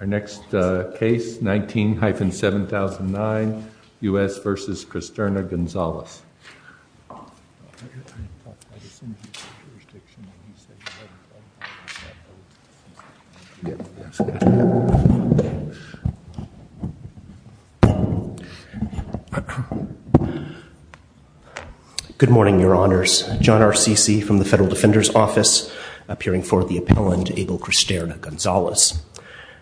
Our next case, 19-7009, U.S. v. Cristerna-Gonzalez. Good morning, Your Honors. John R. Ceci from the Federal Defender's Office, appearing for the appellant Abel Cristerna-Gonzalez.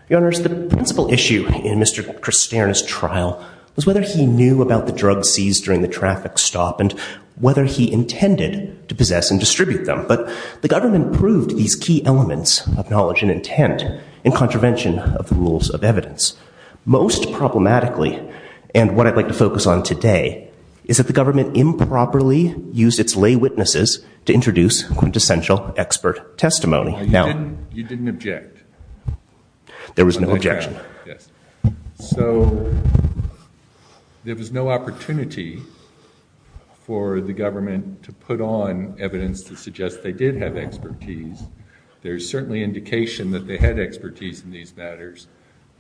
Your Honors, the principal issue in Mr. Cristerna's trial was whether he knew about the drugs seized during the traffic stop and whether he intended to possess and distribute them. But the government proved these key elements of knowledge and intent in contravention of the rules of evidence. Most problematically, and what I'd like to focus on today, is that the government improperly used its lay witnesses to introduce quintessential expert testimony. You didn't object. There was no objection. So there was no opportunity for the government to put on evidence to suggest they did have expertise. There's certainly indication that they had expertise in these matters.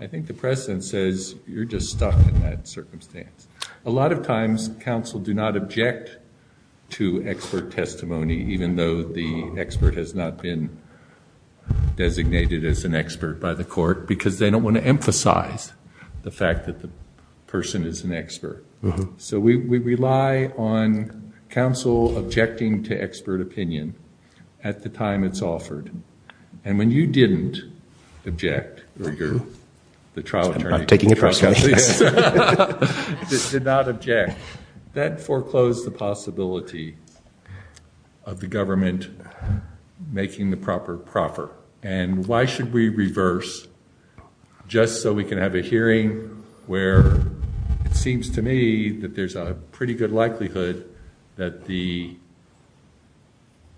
I think the precedent says you're just stuck in that circumstance. A lot of times, counsel do not object to expert testimony, even though the expert has not been designated as an expert by the court, because they don't want to emphasize the fact that the person is an expert. So we rely on counsel objecting to expert opinion at the time it's offered. And when you didn't object, or you're the trial attorney. I'm taking it personally. Did not object. That foreclosed the possibility of the government making the proper proffer. And why should we reverse just so we can have a hearing where it seems to me that there's a pretty good likelihood that the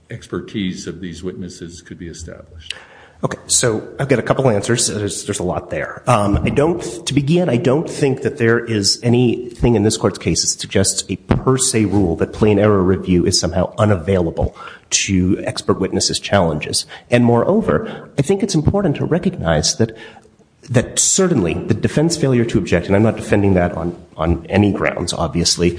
expertise of these witnesses could be established. Okay. So I've got a couple answers. There's a lot there. To begin, I don't think that there is anything in this Court's case that suggests a per se rule that plain error review is somehow unavailable to expert witnesses' challenges. And moreover, I think it's important to recognize that certainly the defense failure to object, and I'm not defending that on any grounds, obviously,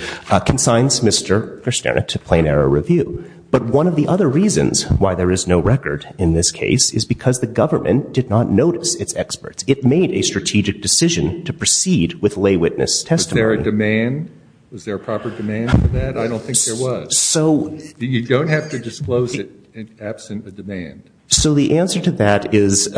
consigns Mr. Versterna to plain error review. But one of the other reasons why there is no record in this case is because the government did not notice its experts. It made a strategic decision to proceed with lay witness testimony. Was there a demand? Was there a proper demand for that? I don't think there was. So. You don't have to disclose it absent a demand. So the answer to that is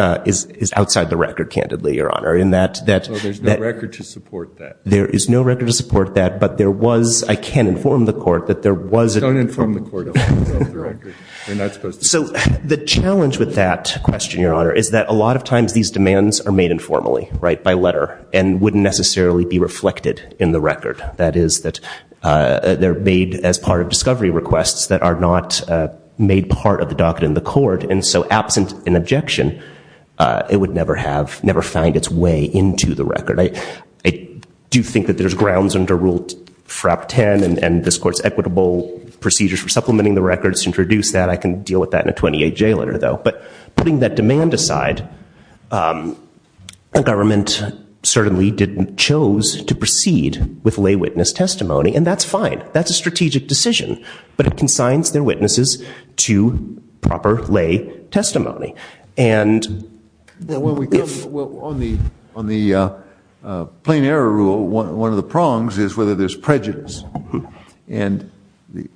outside the record, candidly, Your Honor, in that. So there's no record to support that. There is no record to support that, but there was, I can't inform the Court, that there was. Don't inform the Court of the record. You're not supposed to. So the challenge with that question, Your Honor, is that a lot of times these demands are made informally by letter and wouldn't necessarily be reflected in the record. That is that they're made as part of discovery requests that are not made part of the docket in the court. And so absent an objection, it would never have, never find its way into the record. I do think that there's grounds under Rule FRAP 10 and this Court's equitable procedures for supplementing the record to introduce that. I can deal with that in a 28-J letter, though. But putting that demand aside, the government certainly didn't choose to proceed with lay witness testimony, and that's fine. That's a strategic decision. But it consigns their witnesses to proper lay testimony. Well, on the plain error rule, one of the prongs is whether there's prejudice. And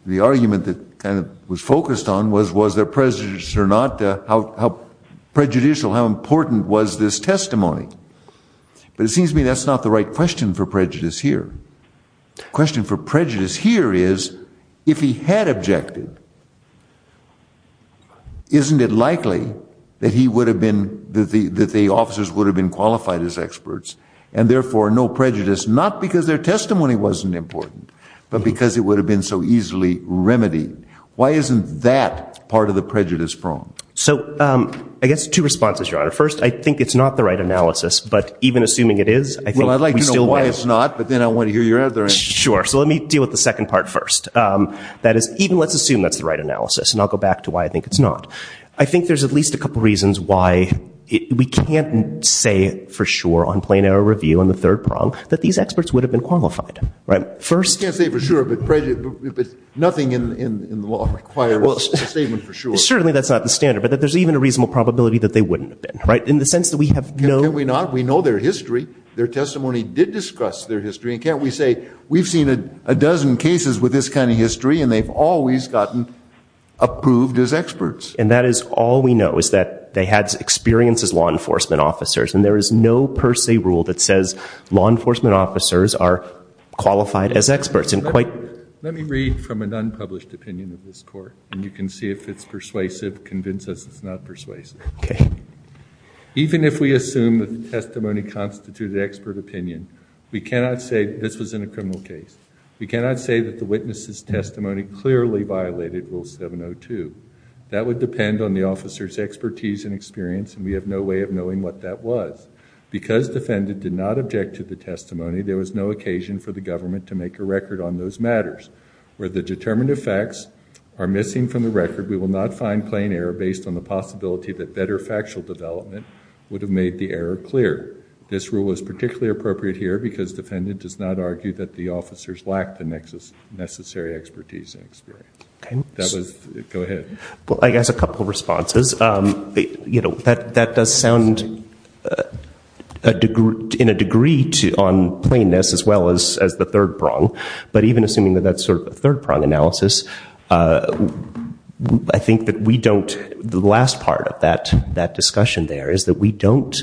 the argument that kind of was focused on was, was there prejudice or not, how prejudicial, how important was this testimony? But it seems to me that's not the right question for prejudice here. The question for prejudice here is, if he had objected, isn't it likely that he would have been, that the officers would have been qualified as experts, and therefore no prejudice, not because their testimony wasn't important, but because it would have been so easily remedied. Why isn't that part of the prejudice pronged? So I guess two responses, Your Honor. First, I think it's not the right analysis, but even assuming it is, I think we still better. I suppose not, but then I want to hear your other answer. Sure. So let me deal with the second part first. That is, even let's assume that's the right analysis, and I'll go back to why I think it's not. I think there's at least a couple reasons why we can't say for sure on plain error review on the third prong that these experts would have been qualified. Right? First. You can't say for sure, but nothing in the law requires a statement for sure. Certainly that's not the standard, but there's even a reasonable probability that they wouldn't have been. Right? In the sense that we have known. Can we not? We know their history. Their testimony did discuss their history, and can't we say we've seen a dozen cases with this kind of history, and they've always gotten approved as experts? And that is all we know is that they had experience as law enforcement officers, and there is no per se rule that says law enforcement officers are qualified as experts. Let me read from an unpublished opinion of this Court, and you can see if it's persuasive. Convince us it's not persuasive. Okay. Even if we assume that the testimony constituted expert opinion, we cannot say this was in a criminal case. We cannot say that the witness's testimony clearly violated Rule 702. That would depend on the officer's expertise and experience, and we have no way of knowing what that was. Because defendant did not object to the testimony, there was no occasion for the government to make a record on those matters. Where the determined effects are missing from the record, we will not find plain error based on the possibility that better factual development would have made the error clear. This rule is particularly appropriate here because defendant does not argue that the officers lacked the necessary expertise and experience. Go ahead. Well, I guess a couple of responses. You know, that does sound in a degree on plainness as well as the third prong, but even assuming that that's sort of a third prong analysis, I think that we don't, the last part of that discussion there is that we don't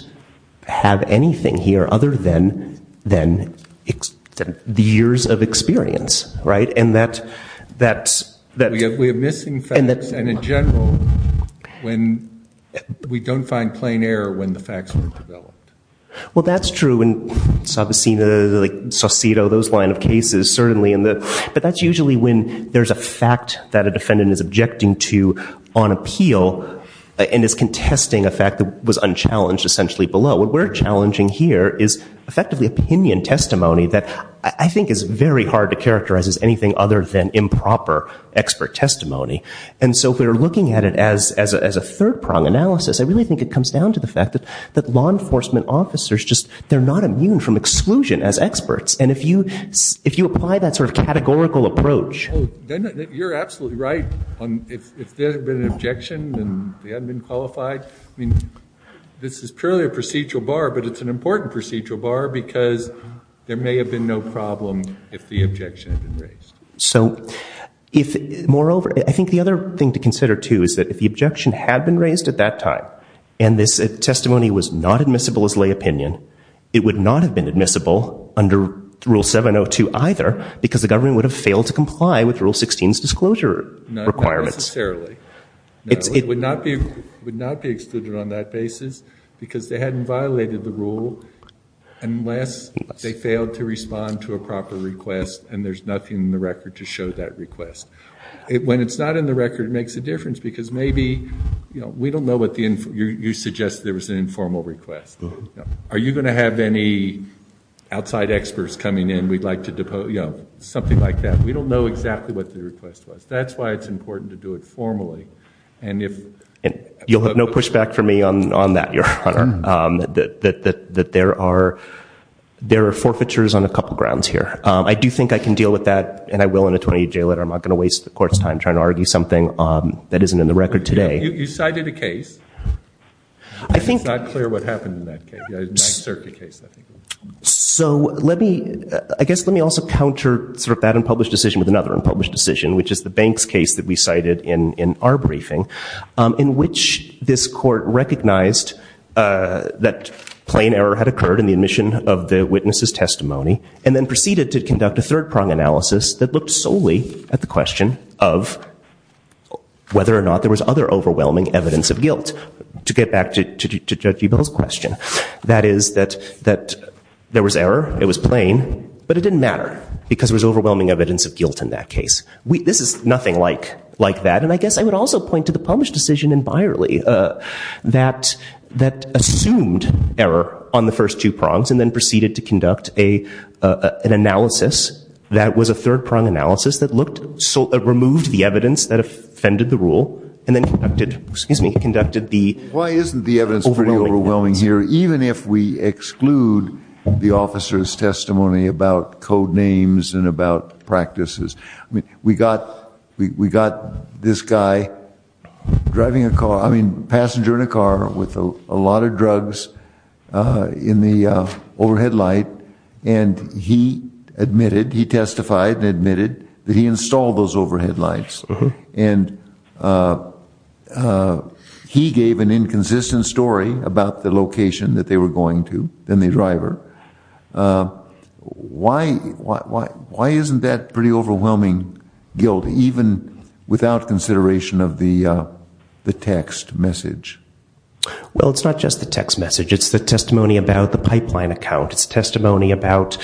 have anything here other than the years of experience, right? And that's... We have missing facts, and in general, we don't find plain error when the facts were developed. Well, that's true, and I've seen the Saucito, those line of cases, certainly. But that's usually when there's a fact that a defendant is objecting to on appeal and is contesting a fact that was unchallenged essentially below. What we're challenging here is effectively opinion testimony that I think is very hard to characterize as anything other than improper expert testimony. And so if we're looking at it as a third prong analysis, I really think it comes down to the fact that law enforcement officers just, they're not immune from exclusion as experts. And if you apply that sort of categorical approach... You're absolutely right. If there had been an objection and they hadn't been qualified, I mean, this is purely a procedural bar, but it's an important procedural bar because there may have been no problem if the objection had been raised. Moreover, I think the other thing to consider, too, is that if the objection had been raised at that time and this testimony was not admissible as lay opinion, it would not have been admissible under Rule 702 either because the government would have failed to comply with Rule 16's disclosure requirements. Not necessarily. It would not be excluded on that basis because they hadn't violated the rule unless they failed to respond to a proper request and there's nothing in the record to show that request. When it's not in the record, it makes a difference because maybe we don't know what the... You suggested there was an informal request. Are you going to have any outside experts coming in we'd like to depose? Something like that. We don't know exactly what the request was. That's why it's important to do it formally. You'll have no pushback from me on that, Your Honor, that there are forfeitures on a couple grounds here. I do think I can deal with that and I will in a 28-J letter. I'm not going to waste the Court's time trying to argue something that isn't in the record today. You cited a case. I think... It's not clear what happened in that case. I guess let me also counter that unpublished decision with another unpublished decision, which is the Banks case that we cited in our briefing, in which this Court recognized that plain error had occurred in the admission of the witness's testimony and then proceeded to conduct a third-prong analysis that looked solely at the question of whether or not there was other overwhelming evidence of guilt. To get back to Judge Ebell's question, that is that there was error, it was plain, but it didn't matter because there was overwhelming evidence of guilt in that case. This is nothing like that. And I guess I would also point to the published decision in Byerly that assumed error on the first two prongs and then proceeded to conduct an analysis that was a third-prong analysis that removed the evidence that offended the rule and then conducted the overwhelming evidence. Why isn't the evidence pretty overwhelming here, even if we exclude the officer's testimony about code names and about practices? I mean, we got this guy driving a car, I mean, passenger in a car with a lot of drugs in the overhead light, and he admitted, he testified and admitted that he installed those overhead lights. And he gave an inconsistent story about the location that they were going to, then the driver. Why isn't that pretty overwhelming guilt, even without consideration of the text message? Well, it's not just the text message. It's the testimony about the pipeline account. It's testimony about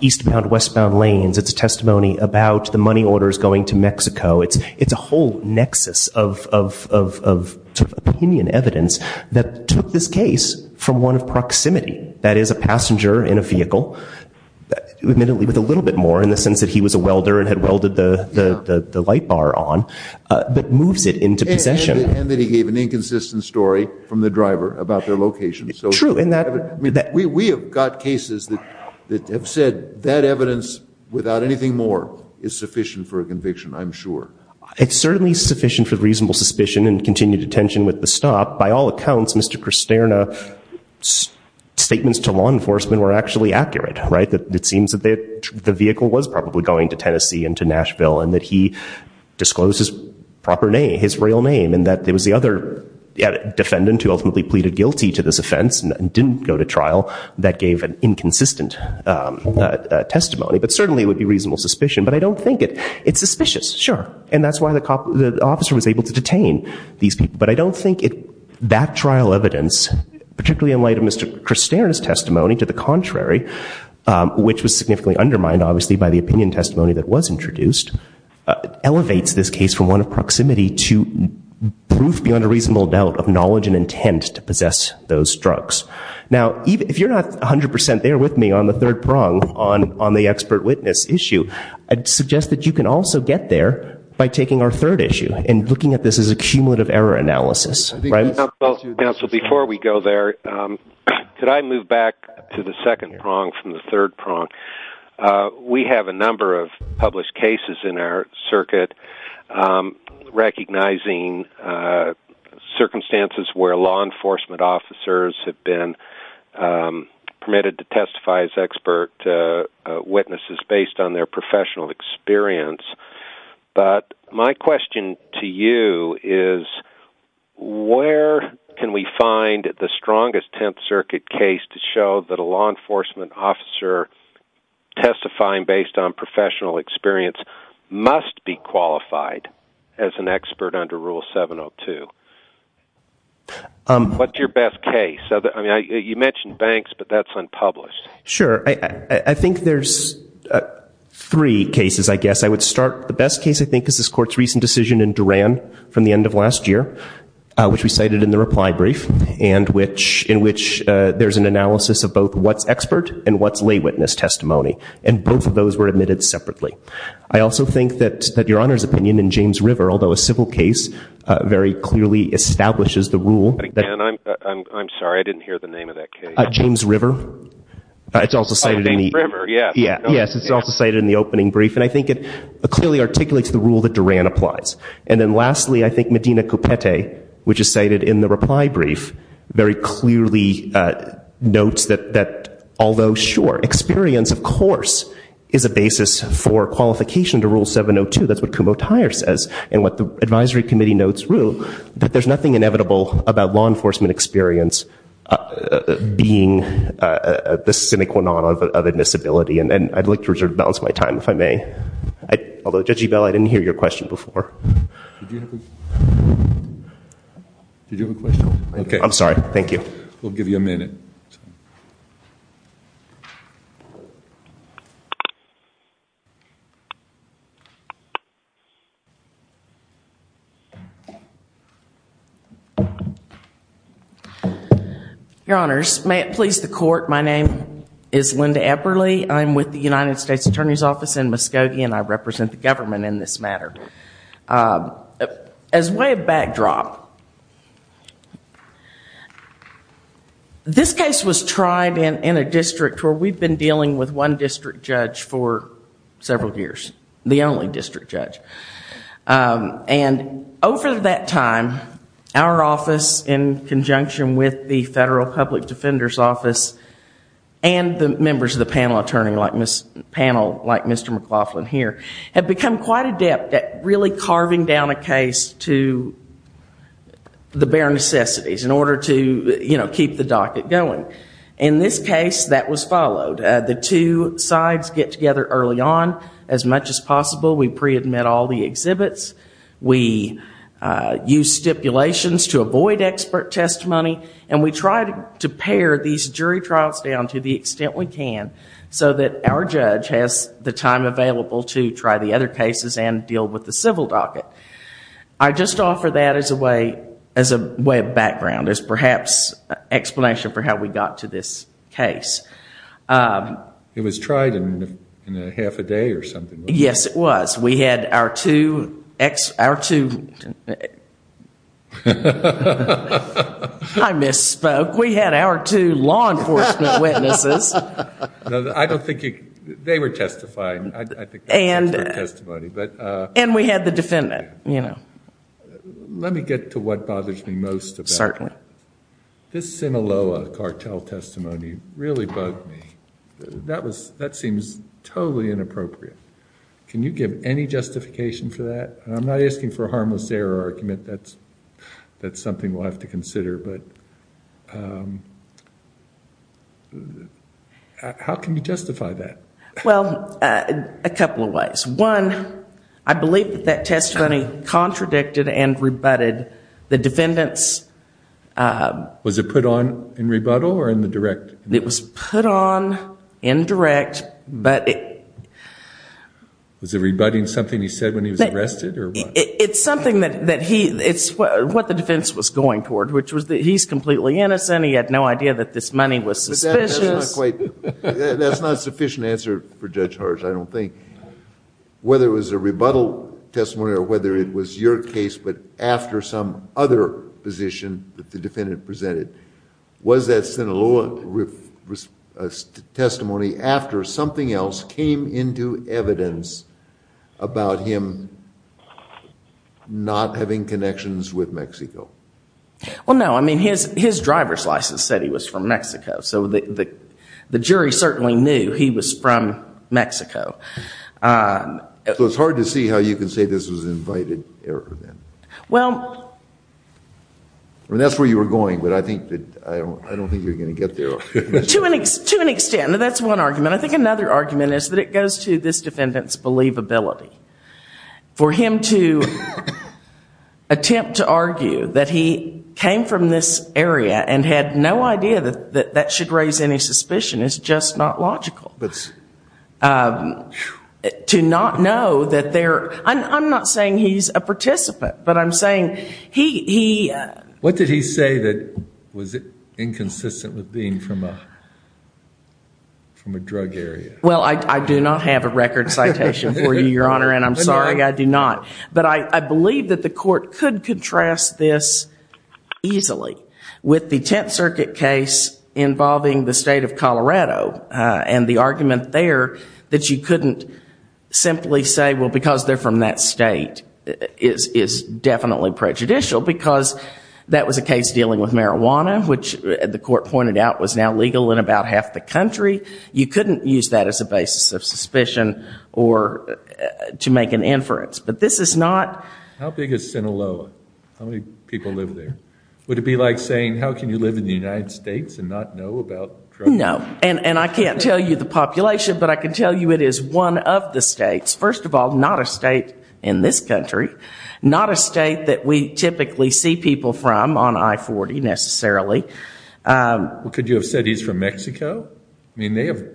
eastbound, westbound lanes. It's testimony about the money orders going to Mexico. It's a whole nexus of opinion evidence that took this case from one of proximity. That is a passenger in a vehicle, admittedly with a little bit more, in the sense that he was a welder and had welded the light bar on, but moves it into possession. And that he gave an inconsistent story from the driver about their location. True. We have got cases that have said that evidence, without anything more, is sufficient for a conviction, I'm sure. It's certainly sufficient for reasonable suspicion and continued attention with the stop. By all accounts, Mr. Cristerna's statements to law enforcement were actually accurate. It seems that the vehicle was probably going to Tennessee and to Nashville, and that he disclosed his proper name, his real name, and that it was the other defendant who ultimately pleaded guilty to this offense and didn't go to trial that gave an inconsistent testimony. But certainly it would be reasonable suspicion. But I don't think it's suspicious, sure. And that's why the officer was able to detain these people. But I don't think that trial evidence, particularly in light of Mr. Cristerna's testimony, to the contrary, which was significantly undermined, obviously, by the opinion testimony that was introduced, elevates this case from one of proximity to proof beyond a reasonable doubt of knowledge and intent to possess those drugs. Now, if you're not 100% there with me on the third prong on the expert witness issue, I'd suggest that you can also get there by taking our third issue and looking at this as a cumulative error analysis. So before we go there, could I move back to the second prong from the third prong? We have a number of published cases in our circuit recognizing circumstances where law enforcement officers have been permitted to testify as expert witnesses based on their professional experience. But my question to you is, where can we find the strongest Tenth Circuit case to show that a law enforcement officer testifying based on professional experience must be qualified as an expert under Rule 702? What's your best case? I mean, you mentioned banks, but that's unpublished. Sure. I think there's three cases, I guess. I would start, the best case, I think, is this Court's recent decision in Duran from the end of last year, which we cited in the reply brief, in which there's an analysis of both what's expert and what's lay witness testimony. And both of those were admitted separately. I also think that Your Honor's opinion in James River, although a civil case, very clearly establishes the rule. I'm sorry, I didn't hear the name of that case. James River. It's also cited in the opening brief. And I think it clearly articulates the rule that Duran applies. And then lastly, I think Medina Cupete, which is cited in the reply brief, very clearly notes that although, sure, experience, of course, is a basis for qualification to Rule 702. That's what Kumo Tyer says. And what the advisory committee notes, Ru, that there's nothing inevitable about law enforcement experience being the sine qua non of admissibility. And I'd like to reserve the balance of my time, if I may. Although, Judge Ebell, I didn't hear your question before. Did you have a question? I'm sorry. Thank you. We'll give you a minute. Your Honors, may it please the Court, my name is Linda Eberle. I'm with the United States Attorney's Office in Muskogee, and I represent the government in this matter. As way of backdrop, this case was tried in a district where we've been dealing with one district judge for several years. The only district judge. And over that time, our office, in conjunction with the Federal Public Defender's Office, and the members of the panel, like Mr. McLaughlin here, have become quite adept at really carving down a case to the bare necessities in order to keep the docket going. In this case, that was followed. The two sides get together early on as much as possible. We pre-admit all the exhibits. We use stipulations to avoid expert testimony. And we try to pare these jury trials down to the extent we can so that our judge has the time available to try the other cases and deal with the civil docket. I just offer that as a way of background, as perhaps an explanation for how we got to this case. It was tried in half a day or something. Yes, it was. We had our two ex- Our two- I misspoke. We had our two law enforcement witnesses. I don't think you- They were testifying. And we had the defendant, you know. Let me get to what bothers me most. Certainly. This Sinaloa cartel testimony really bugged me. That seems totally inappropriate. Can you give any justification for that? I'm not asking for a harmless error argument. That's something we'll have to consider. How can you justify that? Well, a couple of ways. One, I believe that that testimony contradicted and rebutted the defendant's- Was it put on in rebuttal or in the direct? It was put on in direct, but it- Was it rebutting something he said when he was arrested or what? It's something that he... it's what the defense was going toward, which was that he's completely innocent. He had no idea that this money was suspicious. But that's not quite... that's not a sufficient answer for Judge Harsh, I don't think. Whether it was a rebuttal testimony or whether it was your case, but after some other position that the defendant presented. Was that Sinaloa testimony after something else came into evidence about him not having connections with Mexico? Well, no. I mean, his driver's license said he was from Mexico, so the jury certainly knew he was from Mexico. So it's hard to see how you can say this was an invited error then? Well... I mean, that's where you were going, but I don't think you're going to get there. To an extent. That's one argument. I think another argument is that it goes to this defendant's believability. For him to attempt to argue that he came from this area and had no idea that that should raise any suspicion is just not logical. But... To not know that there... I'm not saying he's a participant, but I'm saying he... What did he say that was inconsistent with being from a drug area? Well, I do not have a record citation for you, Your Honor, and I'm sorry, I do not. But I believe that the court could contrast this easily with the Tenth Circuit case involving the state of Colorado and the argument there that you couldn't simply say, well, because they're from that state is definitely prejudicial because that was a case dealing with marijuana, which the court pointed out was now legal in about half the country. You couldn't use that as a basis of suspicion or to make an inference. But this is not... How big is Sinaloa? How many people live there? Would it be like saying, how can you live in the United States and not know about drugs? No. And I can't tell you the population, but I can tell you it is one of the states. First of all, not a state in this country, not a state that we typically see people from on I-40 necessarily. Well, could you have said he's from Mexico? I mean, they have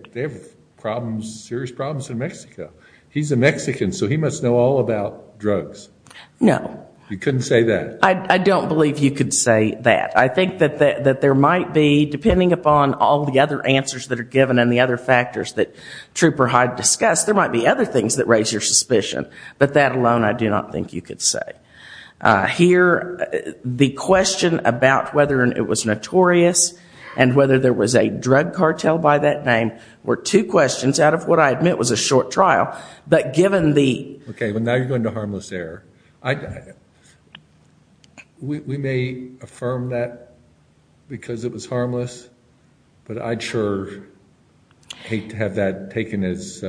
problems, serious problems in Mexico. He's a Mexican, so he must know all about drugs. No. You couldn't say that? I don't believe you could say that. I think that there might be, depending upon all the other answers that are given and the other factors that Trooper Hyde discussed, there might be other things that raise your suspicion. But that alone I do not think you could say. Here, the question about whether it was notorious and whether there was a drug cartel by that name were two questions out of what I admit was a short trial. But given the... We may affirm that because it was harmless, but I'd sure hate to have that taken as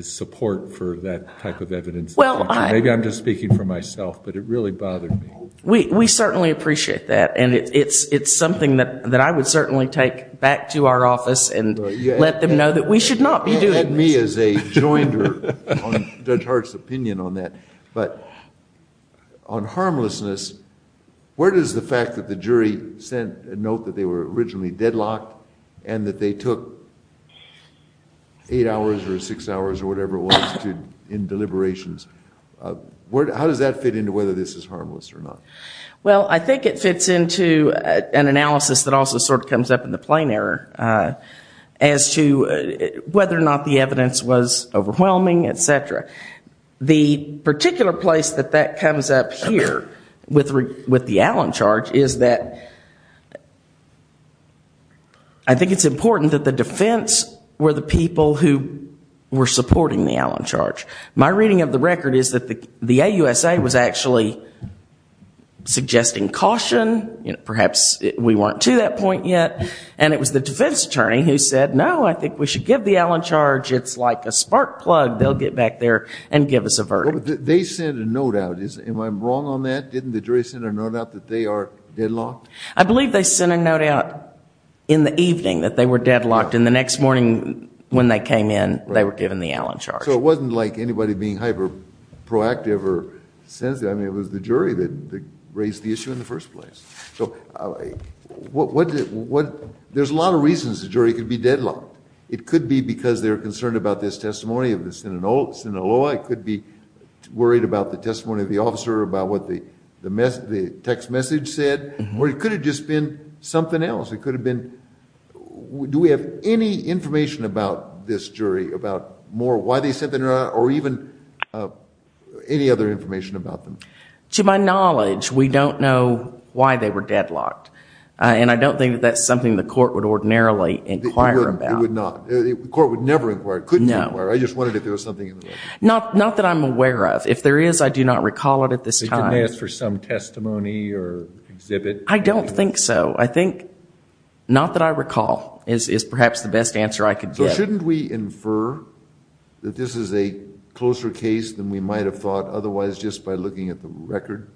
support for that type of evidence. Maybe I'm just speaking for myself, but it really bothered me. We certainly appreciate that, and it's something that I would certainly take back to our office and let them know that we should not be doing this. You had me as a jointer on Judge Hart's opinion on that. But on harmlessness, where does the fact that the jury sent a note that they were originally deadlocked and that they took eight hours or six hours or whatever it was in deliberations, how does that fit into whether this is harmless or not? Well, I think it fits into an analysis that also sort of comes up in the plain error as to whether or not the evidence was overwhelming, et cetera. The particular place that that comes up here with the Allen charge is that I think it's important that the defense were the people who were supporting the Allen charge. My reading of the record is that the AUSA was actually suggesting caution. Perhaps we weren't to that point yet, and it was the defense attorney who said, no, I think we should give the Allen charge. It's like a spark plug. They'll get back there and give us a verdict. They sent a note out. Am I wrong on that? Didn't the jury send a note out that they are deadlocked? I believe they sent a note out in the evening that they were deadlocked, and the next morning when they came in they were given the Allen charge. So it wasn't like anybody being hyper-proactive or sensitive. I mean, it was the jury that raised the issue in the first place. So there's a lot of reasons the jury could be deadlocked. It could be because they're concerned about this testimony of the Sinaloa. It could be worried about the testimony of the officer about what the text message said. Or it could have just been something else. It could have been do we have any information about this jury about more why they sent the note out or even any other information about them. To my knowledge, we don't know why they were deadlocked, and I don't think that that's something the court would ordinarily inquire about. It would not. The court would never inquire. It couldn't inquire. I just wondered if there was something in the note. Not that I'm aware of. If there is, I do not recall it at this time. They didn't ask for some testimony or exhibit? I don't think so. I think not that I recall is perhaps the best answer I could give. So shouldn't we infer that this is a closer case than we might have thought otherwise just by looking at the record?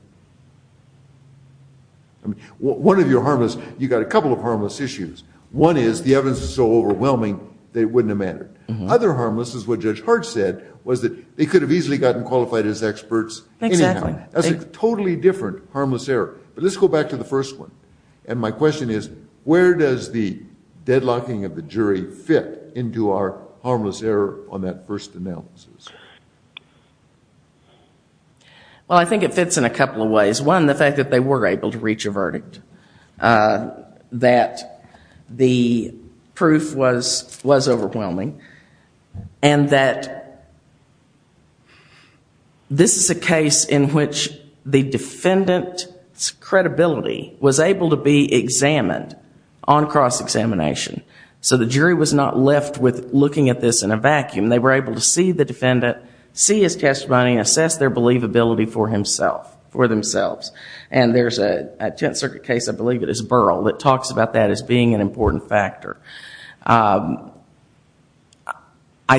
One of your harmless, you've got a couple of harmless issues. One is the evidence is so overwhelming that it wouldn't have mattered. Other harmless is what Judge Hart said was that they could have easily gotten qualified as experts anyhow. Exactly. That's a totally different harmless error. But let's go back to the first one. And my question is where does the deadlocking of the jury fit into our harmless error on that first analysis? Well, I think it fits in a couple of ways. One, the fact that they were able to reach a verdict, that the proof was overwhelming, and that this is a case in which the defendant's credibility was able to be examined on cross-examination. So the jury was not left with looking at this in a vacuum. They were able to see the defendant, see his testimony, assess their believability for themselves. And there's a Tenth Circuit case, I believe it is Burrell, that talks about that as being an important factor. I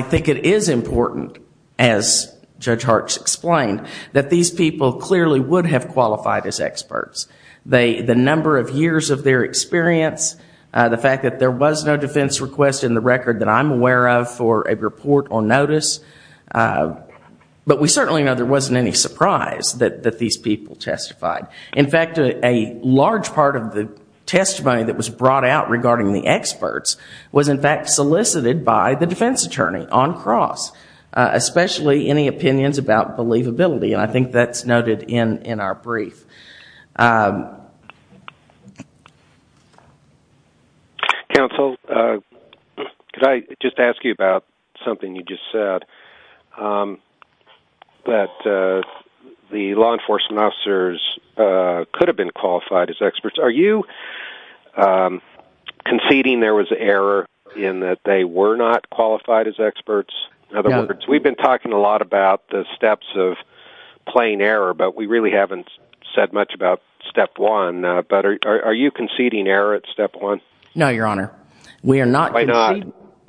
think it is important, as Judge Hart's explained, that these people clearly would have qualified as experts. The number of years of their experience, the fact that there was no defense request in the record that I'm aware of for a report or notice. But we certainly know there wasn't any surprise that these people testified. In fact, a large part of the testimony that was brought out regarding the experts was in fact solicited by the defense attorney on cross. Especially any opinions about believability, and I think that's noted in our brief. Counsel, could I just ask you about something you just said? That the law enforcement officers could have been qualified as experts. Are you conceding there was an error in that they were not qualified as experts? In other words, we've been talking a lot about the steps of plain error, but we really haven't said that. We haven't said much about step one, but are you conceding error at step one? No, Your Honor. We are not conceding. Why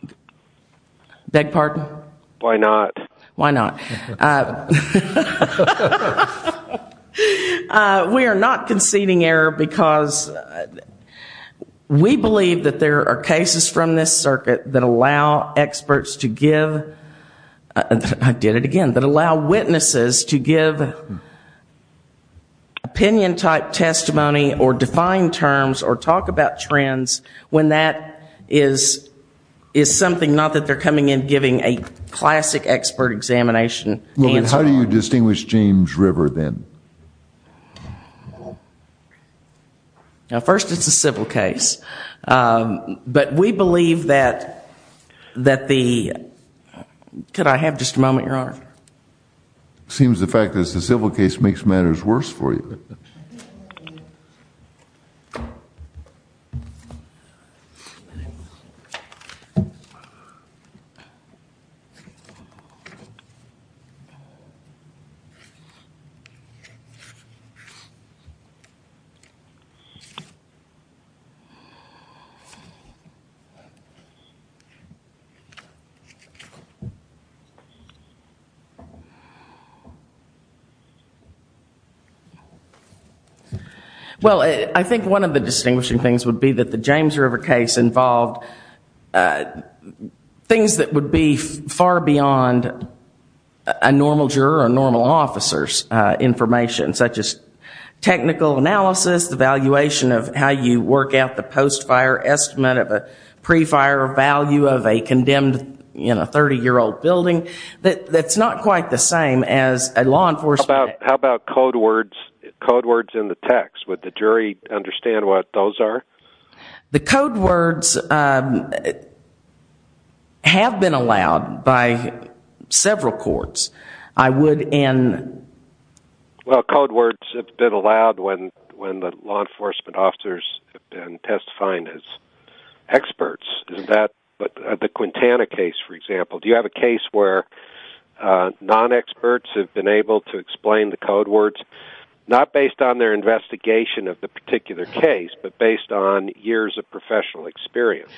not? Beg pardon? Why not? Why not? We are not conceding error because we believe that there are cases from this circuit that allow experts to give, I did it again, that allow witnesses to give opinion type testimony or define terms or talk about trends when that is something not that they're coming in and giving a classic expert examination. How do you distinguish James River then? First it's a civil case, but we believe that the, could I have just a moment, Your Honor? It seems the fact that it's a civil case makes matters worse for you. Well, I think one of the distinguishing things would be that the James River case involved things that would be considered far beyond a normal juror or normal officer's information, such as technical analysis, evaluation of how you work out the post-fire estimate of a pre-fire value of a condemned 30-year-old building. That's not quite the same as a law enforcement. How about code words in the text? Would the jury understand what those are? The code words have been allowed by several courts. I would, and... Well, code words have been allowed when the law enforcement officers have been testifying as experts. The Quintana case, for example, do you have a case where non-experts have been able to explain the code words, not based on their investigation of the particular case, but based on years of professional experience?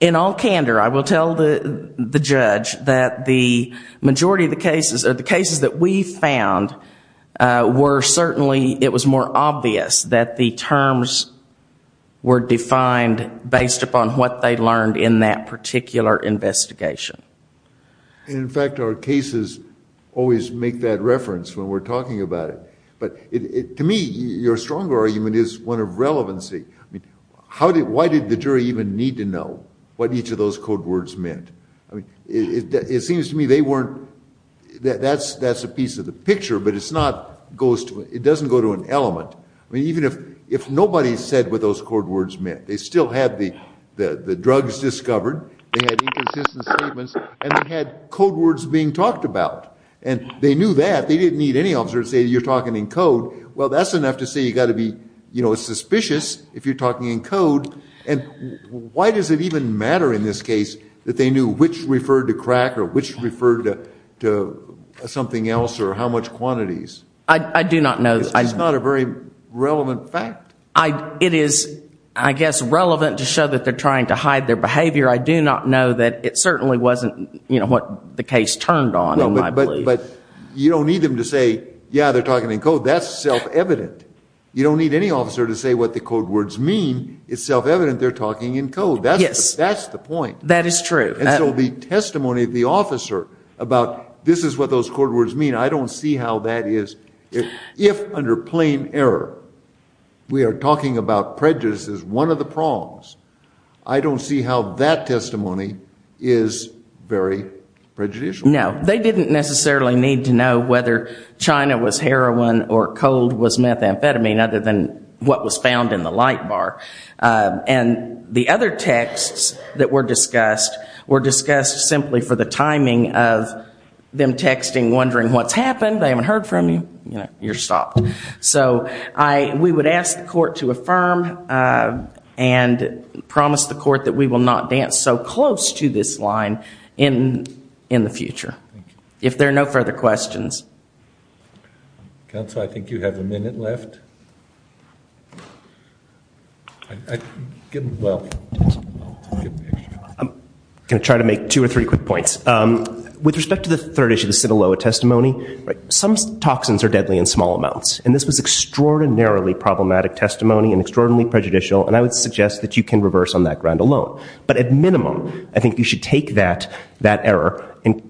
In all candor, I will tell the judge that the majority of the cases, or the cases that we found, were certainly, it was more obvious that the terms were defined based upon what they learned in that particular investigation. In fact, our cases always make that reference when we're talking about it. To me, your stronger argument is one of relevancy. Why did the jury even need to know what each of those code words meant? That's a piece of the picture, but it doesn't go to an element. I mean, even if nobody said what those code words meant, they still had the drugs discovered, they had inconsistent statements, and they had code words being talked about. And they knew that. They didn't need any officer to say, you're talking in code. Well, that's enough to say you've got to be suspicious if you're talking in code. And why does it even matter in this case that they knew which referred to crack or which referred to something else, or how much quantities? It's not a very relevant fact. It is, I guess, relevant to show that they're trying to hide their behavior. I do not know that it certainly wasn't what the case turned on, in my belief. But you don't need them to say, yeah, they're talking in code. That's self-evident. You don't need any officer to say what the code words mean. It's self-evident they're talking in code. That's the point. And so the testimony of the officer about this is what those code words mean, I don't see how that is. If, under plain error, we are talking about prejudice as one of the prongs, I don't see how that testimony is very prejudicial. No, they didn't necessarily need to know whether China was heroin or cold was methamphetamine, other than what was found in the light bar. And the other texts that were discussed were discussed simply for the timing of them texting, wondering what's happened, they haven't heard from you, you're stopped. So we would ask the court to affirm and promise the court that we will not dance so close to this line in the future. If there are no further questions. I'm going to try to make two or three quick points. With respect to the third issue, the Sinaloa testimony, some toxins are deadly in small amounts. And this was extraordinarily problematic testimony and extraordinarily prejudicial, and I would suggest that you can reverse on that ground alone. But at minimum, I think you should take that error and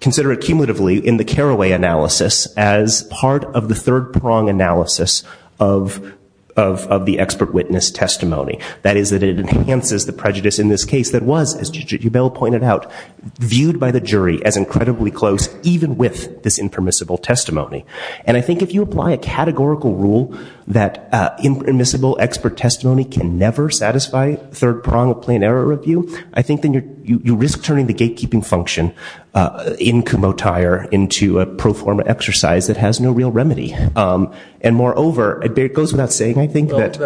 consider it cumulatively in the Caraway analysis as part of the third prong analysis of the expert witness testimony. That is that it enhances the prejudice in this case that was, as you pointed out, viewed by the jury as incredibly close, even with this impermissible testimony. And I think if you apply a categorical rule that impermissible expert testimony can never satisfy third prong of plain error review, I think then you risk turning the gatekeeping function in Kumotire into a pro forma exercise that has no real remedy. And moreover, it goes without saying, I think that...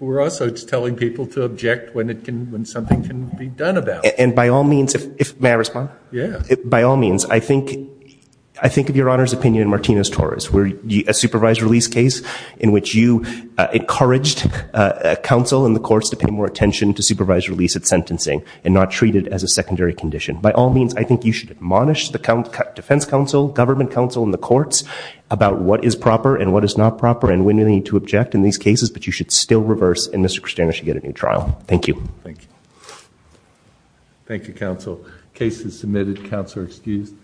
We're also telling people to object when something can be done about it. And by all means, I think of your Honor's opinion in Martinez-Torres, where a supervised release case in which you encouraged counsel in the courts to pay more attention to supervised release at sentencing and not treat it as a secondary condition. By all means, I think you should admonish the defense counsel, government counsel, and the courts about what is proper and what is not proper and when you need to object in these cases. But you should still reverse, and Mr. Christiano should get a new trial. Thank you. Thank you, counsel. Case is submitted. Counsel are excused.